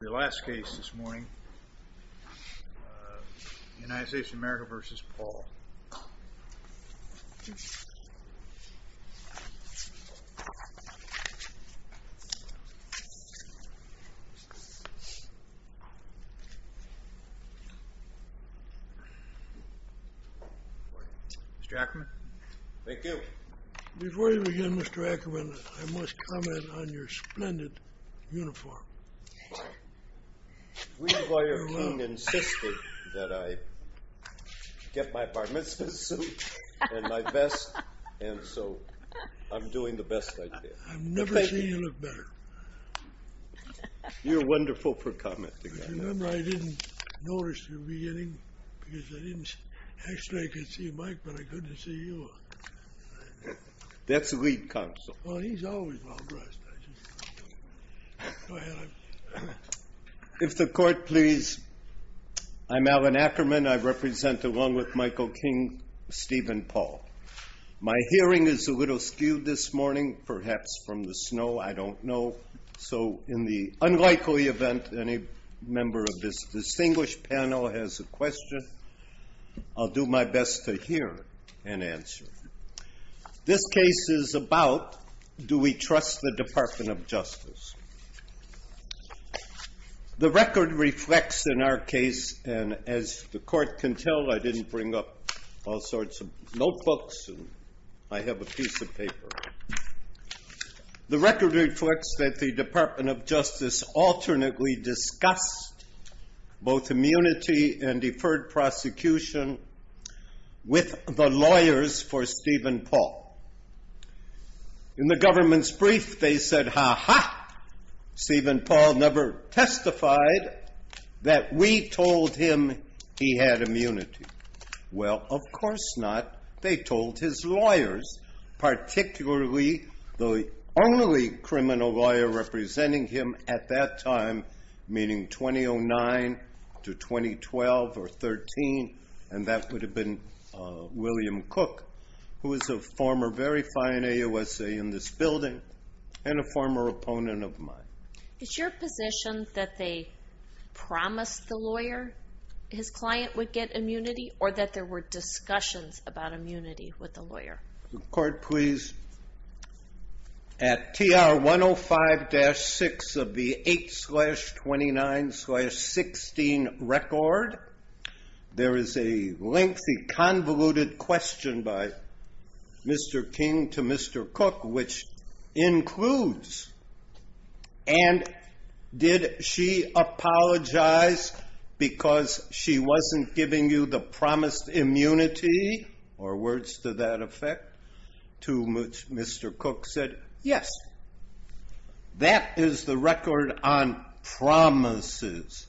Your last case this morning, United States of America v. Paul. Mr. Ackerman. Thank you. Before we begin, Mr. Ackerman, I must comment on your splendid uniform. We were insisting that I get my bar mitzvah suit and my vest, and so I'm doing the best I can. I've never seen you look better. I remember I didn't notice in the beginning, because I didn't... Actually, I could see Mike, but I couldn't see you. That's the lead counsel. Well, he's always well-dressed. If the court please. I'm Alan Ackerman. I represent, along with Michael King, Steven Paul. My hearing is a little skewed this morning, perhaps from the snow. I don't know. So in the unlikely event any member of this distinguished panel has a question, I'll do my best to hear and answer. This case is about, do we trust the Department of Justice? The record reflects in our case, and as the court can tell, I didn't bring up all sorts of notebooks. I have a piece of paper. The record reflects that the Department of Justice alternately discussed both immunity and deferred prosecution with the lawyers for Steven Paul. In the government's brief, they said, ha-ha, Steven Paul never testified that we told him he had immunity. Well, of course not. They told his lawyers, particularly the only criminal lawyer representing him at that time, meaning 2009 to 2012 or 13, and that would have been William Cook, who is a former very fine AUSA in this building and a former opponent of mine. Is your position that they promised the lawyer his client would get immunity or that there were discussions about immunity with the lawyer? The court, please. At TR 105-6 of the 8-29-16 record, there is a lengthy convoluted question by Mr. King to Mr. Cook, which includes, and did she apologize because she wasn't giving you the promised immunity or words to that effect? To which Mr. Cook said, yes. That is the record on promises.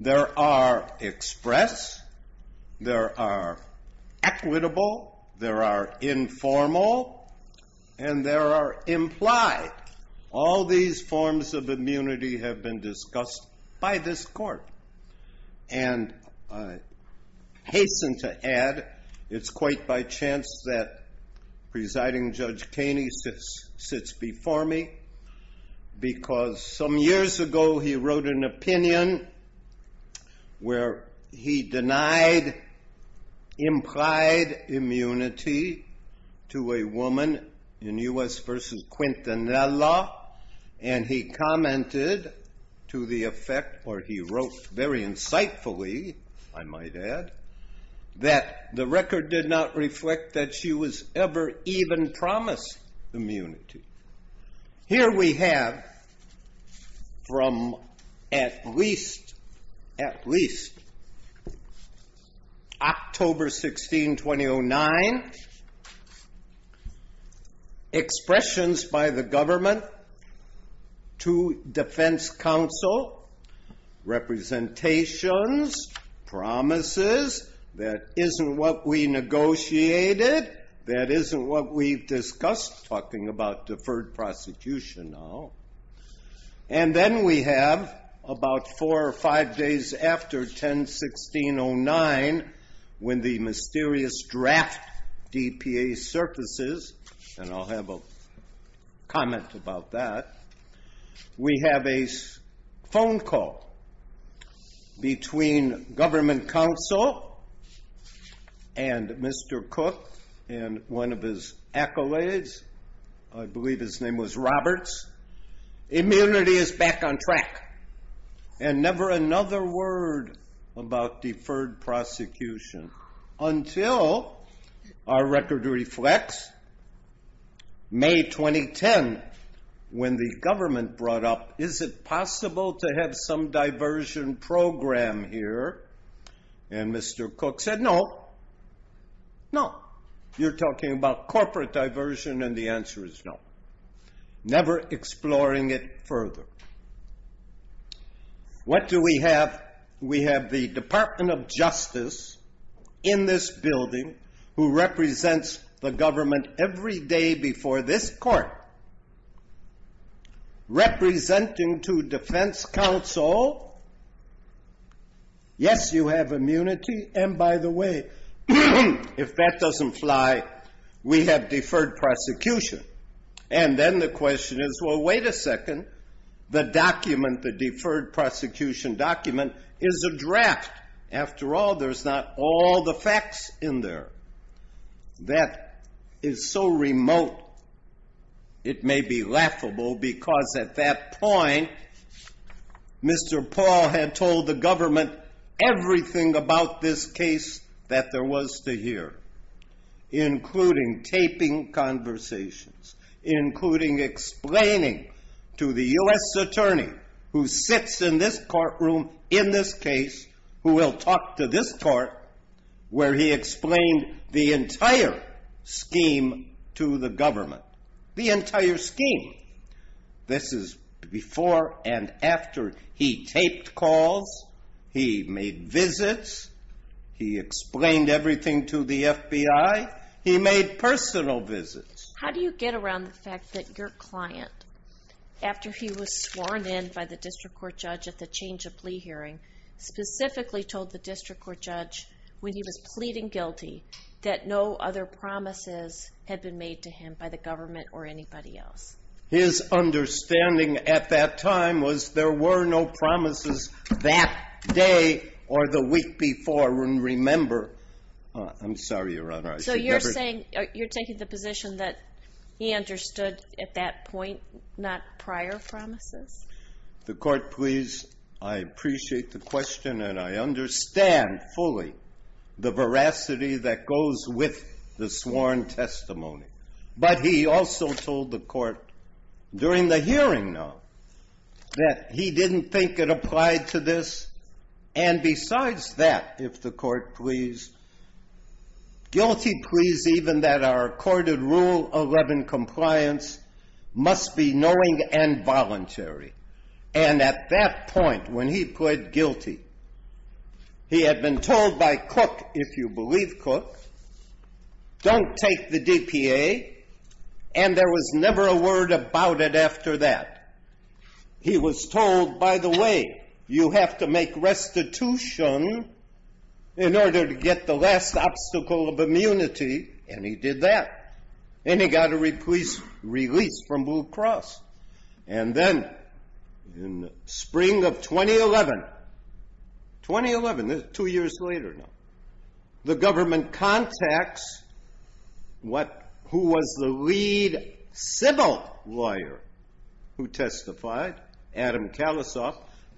There are express, there are equitable, there are informal, and there are implied. All these forms of immunity have been discussed by this court. And I hasten to add, it's quite by chance that Presiding Judge Kaney sits before me because some years ago, he wrote an opinion where he denied implied immunity to a woman in U.S. versus Quintanilla, and he commented to the effect, or he wrote very insightfully, I might add, that the record did not reflect that she was ever even promised immunity. Here we have, from at least October 16, 2009, expressions by the government to defense counsel, representations, promises, that isn't what we negotiated, that isn't what we've discussed, talking about deferred prosecution now. And then we have, about four or five days after 10-16-09, when the mysterious draft DPA surfaces, and I'll have a comment about that, we have a phone call between government counsel and Mr. Cook, and one of his accolades, I believe his name was Roberts, immunity is back on track. And never another word about deferred prosecution. Until our record reflects, May 2010, when the government brought up, is it possible to have some diversion program here? And Mr. Cook said, no. No. You're talking about corporate diversion, and the answer is no. Never exploring it further. What do we have? We have the Department of Justice in this building, who represents the government every day before this court, representing to defense counsel, yes, you have immunity, and by the way, if that doesn't fly, we have deferred prosecution. And then the question is, well, wait a second. The document, the deferred prosecution document, is a draft. After all, there's not all the facts in there. That is so remote, it may be laughable, because at that point, Mr. Paul had told the government everything about this case that there was to hear, including taping conversations, including explaining to the U.S. attorney, who sits in this courtroom in this case, who will talk to this court, where he explained the entire scheme to the government. The entire scheme. This is before and after he taped calls, he made visits, he explained everything to the FBI, he made personal visits. How do you get around the fact that your client, after he was sworn in by the district court judge at the change of plea hearing, specifically told the district court judge, when he was pleading guilty, that no other promises had been made to him by the government or anybody else? His understanding at that time was there were no promises that day or the week before. And remember, I'm sorry, Your Honor. So you're saying, you're taking the position that he understood at that point, not prior promises? The Court, please, I appreciate the question, and I understand fully the veracity that goes with the sworn testimony. But he also told the Court during the hearing, though, that he didn't think it applied to this. And besides that, if the Court please, guilty pleas even that are accorded Rule 11 compliance must be knowing and voluntary. And at that point, when he pled guilty, he had been told by Cook, if you believe Cook, don't take the DPA. And there was never a word about it after that. He was told, by the way, you have to make restitution in order to get the last obstacle of immunity. And he did that. And he got a release from Blue Cross. And then in spring of 2011, 2011, two years later now, the government contacts what, who was the lead civil lawyer who testified, Adam Kalasoff,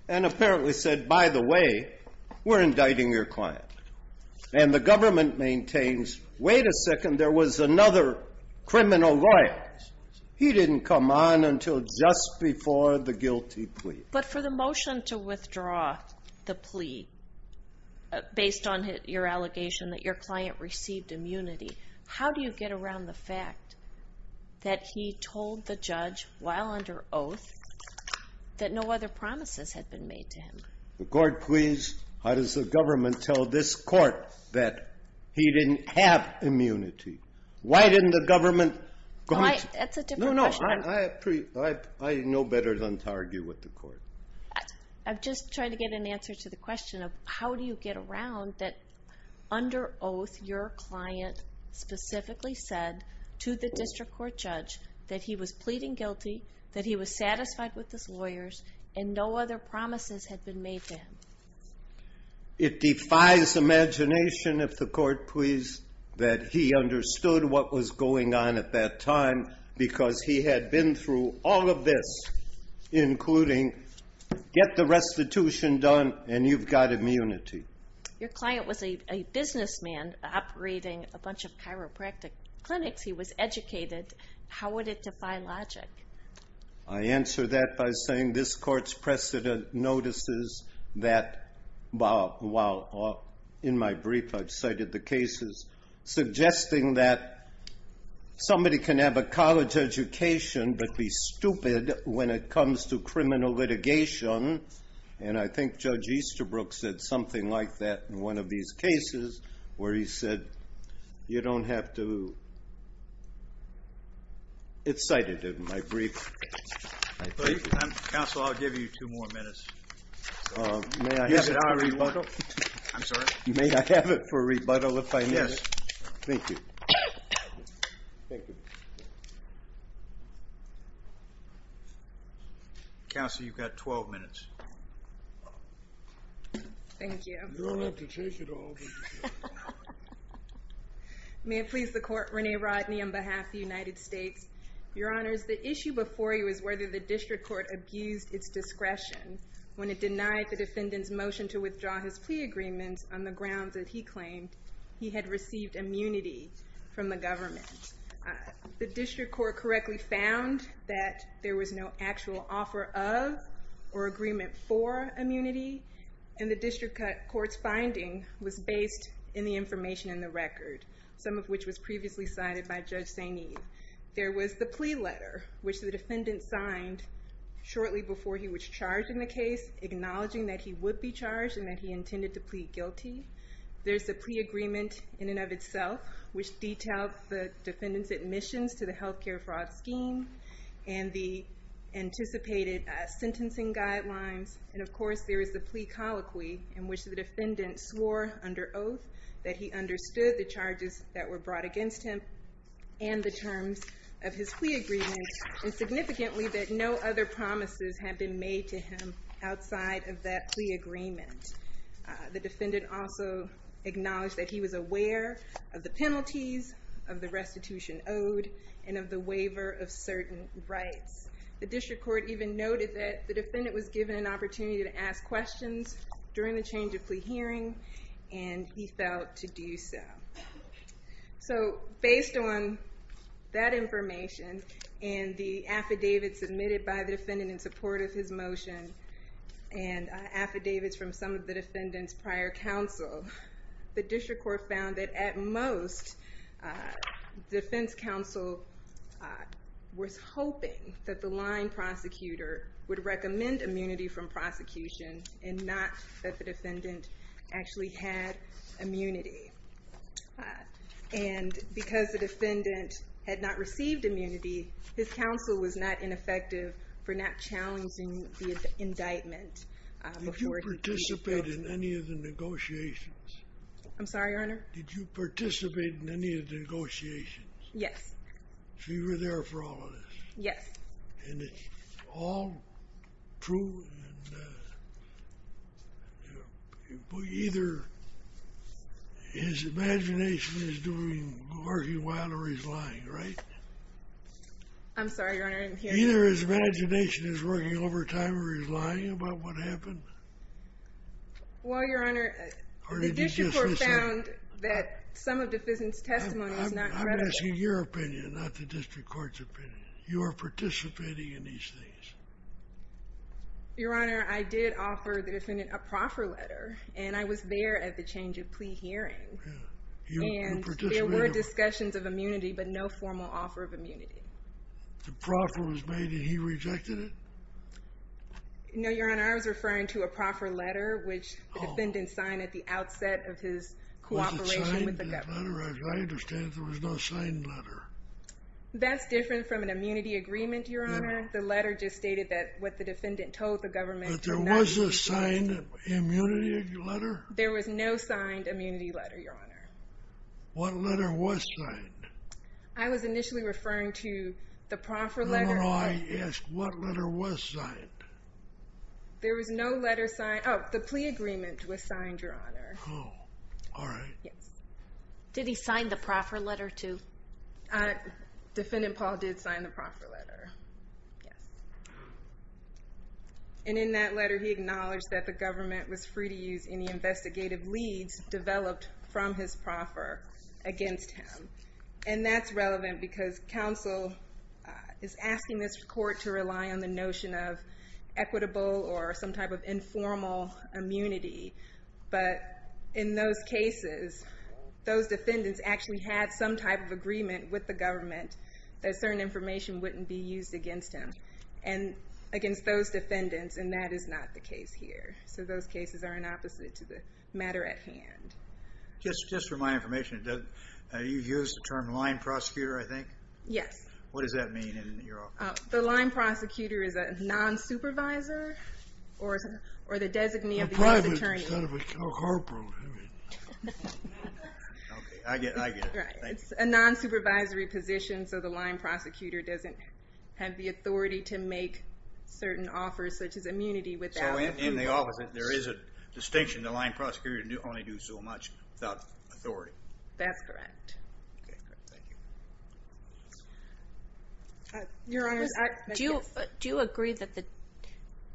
and apparently said, by the way, we're indicting your client. And the government maintains, wait a second, there was another criminal lawyer. He didn't come on until just before the guilty plea. But for the motion to withdraw the plea, based on your allegation that your client received immunity, how do you get around the fact that he told the judge, while under oath, that no other promises had been made to him? The Court please, how does the government tell this Court that he didn't have immunity? Why didn't the government... That's a different question. I know better than to argue with the Court. I'm just trying to get an answer to the question of how do you get around that under oath, your client specifically said to the district court judge that he was pleading guilty, that he was satisfied with his lawyers, and no other promises had been made to him. It defies imagination, if the Court please, that he understood what was going on at that time because he had been through all of this, including get the restitution done and you've got immunity. Your client was a businessman operating a bunch of chiropractic clinics. He was educated. How would it defy logic? I answer that by saying this Court's precedent notices that, while in my brief I've cited the cases, suggesting that somebody can have a college education but be stupid when it comes to criminal litigation, and I think Judge Easterbrook said something like that in one of these cases where he said you don't have to... It's cited in my brief. Counsel, I'll give you two more minutes. May I have it for rebuttal? I'm sorry? May I have it for rebuttal if I may? Yes. Thank you. Thank you. Counsel, you've got 12 minutes. Thank you. You don't have to take it all. May it please the Court. Renee Rodney on behalf of the United States. Your Honors, the issue before you is whether the District Court abused its discretion when it denied the defendant's motion to withdraw his plea agreements on the grounds that he claimed he had received immunity from the government. The District Court correctly found that there was no actual offer of or agreement for immunity, and the District Court's finding was based in the information in the record, some of which was previously cited by Judge Sainee. There was the plea letter, which the defendant signed shortly before he was charged in the case, acknowledging that he would be charged and that he intended to plead guilty. There's the plea agreement in and of itself, which detailed the defendant's admissions to the health care fraud scheme and the anticipated sentencing guidelines. And, of course, there is the plea colloquy in which the defendant swore under oath that he understood the charges that were brought against him and the terms of his plea agreement, and significantly that no other promises had been made to him outside of that plea agreement. The defendant also acknowledged that he was aware of the penalties, of the restitution owed, and of the waiver of certain rights. The District Court even noted that the defendant was given an opportunity to ask questions during the change of plea hearing, and he felt to do so. So, based on that information and the affidavits submitted by the defendant in support of his motion, and affidavits from some of the defendant's prior counsel, the District Court found that, at most, the defense counsel was hoping that the line prosecutor would recommend immunity from prosecution and not that the defendant actually had immunity. And because the defendant had not received immunity, his counsel was not ineffective for not challenging the indictment before he pleaded guilty. Did you participate in any of the negotiations? I'm sorry, Your Honor? Did you participate in any of the negotiations? Yes. So you were there for all of this? Yes. And it's all true? Either his imagination is working wild or he's lying, right? I'm sorry, Your Honor? Either his imagination is working overtime or he's lying about what happened? Well, Your Honor, the District Court found that some of the defendant's testimony is not credible. I'm asking your opinion, not the District Court's opinion. You were participating in these things? Your Honor, I did offer the defendant a proffer letter, and I was there at the change of plea hearing. And there were discussions of immunity but no formal offer of immunity. The proffer was made and he rejected it? No, Your Honor, I was referring to a proffer letter, which the defendant signed at the outset of his cooperation with the government. I understand there was no signed letter. That's different from an immunity agreement, Your Honor. The letter just stated what the defendant told the government. But there was a signed immunity letter? There was no signed immunity letter, Your Honor. What letter was signed? I was initially referring to the proffer letter. No, no, I asked what letter was signed. There was no letter signed. Oh, the plea agreement was signed, Your Honor. Oh, all right. Yes. Did he sign the proffer letter, too? Defendant Paul did sign the proffer letter. Yes. And in that letter he acknowledged that the government was free to use any investigative leads developed from his proffer against him. And that's relevant because counsel is asking this court to rely on the notion of equitable or some type of informal immunity. But in those cases, those defendants actually had some type of agreement with the government that certain information wouldn't be used against him and against those defendants, and that is not the case here. So those cases are an opposite to the matter at hand. Just for my information, you used the term line prosecutor, I think? Yes. What does that mean? The line prosecutor is a non-supervisor or the designee or private instead of a corporal. Okay, I get it. It's a non-supervisory position, so the line prosecutor doesn't have the authority to make certain offers such as immunity without a plea. So in the opposite, there is a distinction. The line prosecutor can only do so much without authority. That's correct. Okay, great. Thank you. Do you agree that the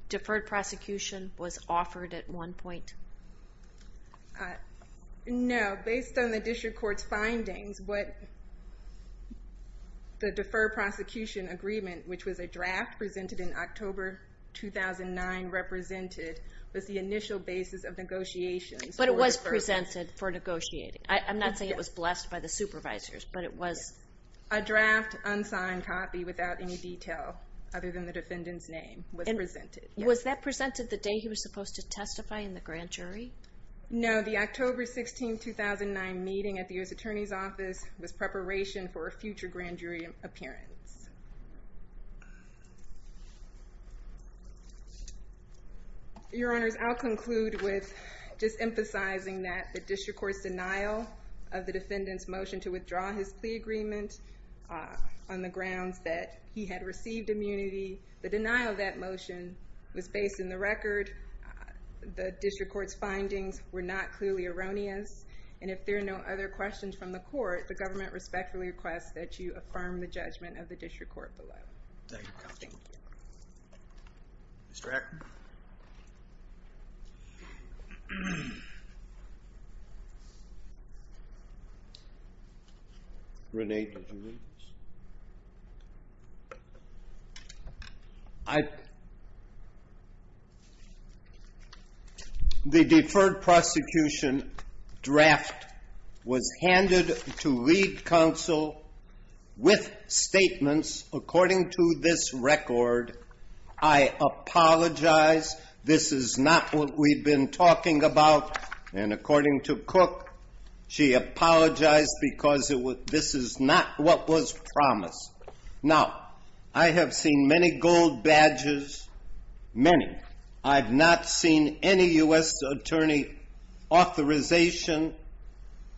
deferred prosecution was offered at one point? No. Based on the district court's findings, the deferred prosecution agreement, which was a draft presented in October 2009, represented the initial basis of negotiations. But it was presented for negotiating. I'm not saying it was blessed by the supervisors, but it was. A draft, unsigned copy without any detail other than the defendant's name was presented. Was that presented the day he was supposed to testify in the grand jury? No. The October 16, 2009 meeting at the U.S. Attorney's Office was preparation for a future grand jury appearance. Your Honors, I'll conclude with just emphasizing that the district court's denial of the defendant's motion to withdraw his plea agreement on the grounds that he had received immunity, the denial of that motion was based in the record. The district court's findings were not clearly erroneous. And if there are no other questions from the court, the government respectfully requests that you affirm the judgment of the district court below. Thank you. Mr. Ackerman? Rene, did you need this? The deferred prosecution draft was handed to lead counsel with statements according to this record, I apologize, this is not what we've been talking about. And according to Cook, she apologized because this is not what was promised. Now, I have seen many gold badges, many. I've not seen any U.S. attorney authorization,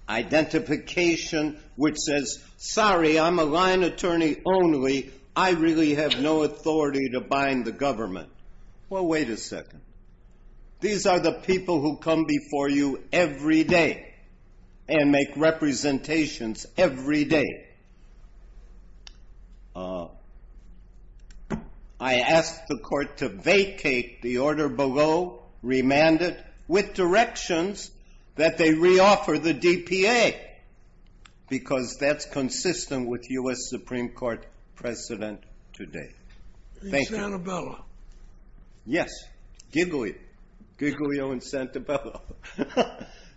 identification which says, sorry, I'm a line attorney only, I really have no authority to bind the government. Well, wait a second. These are the people who come before you every day and make representations every day. I asked the court to vacate the order below, remand it with directions that they reoffer the DPA because that's consistent with U.S. Supreme Court precedent today. Thank you. In Santa Bella? Yes. Giglio. Giglio in Santa Bella.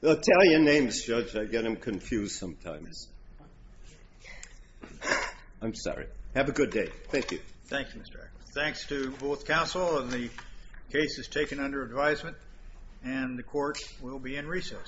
They'll tell you names, Judge, I get them confused sometimes. I'm sorry. Have a good day. Thank you. Thank you, Mr. Ackerman. Thanks to both counsel. The case is taken under advisement, and the court will be in recess.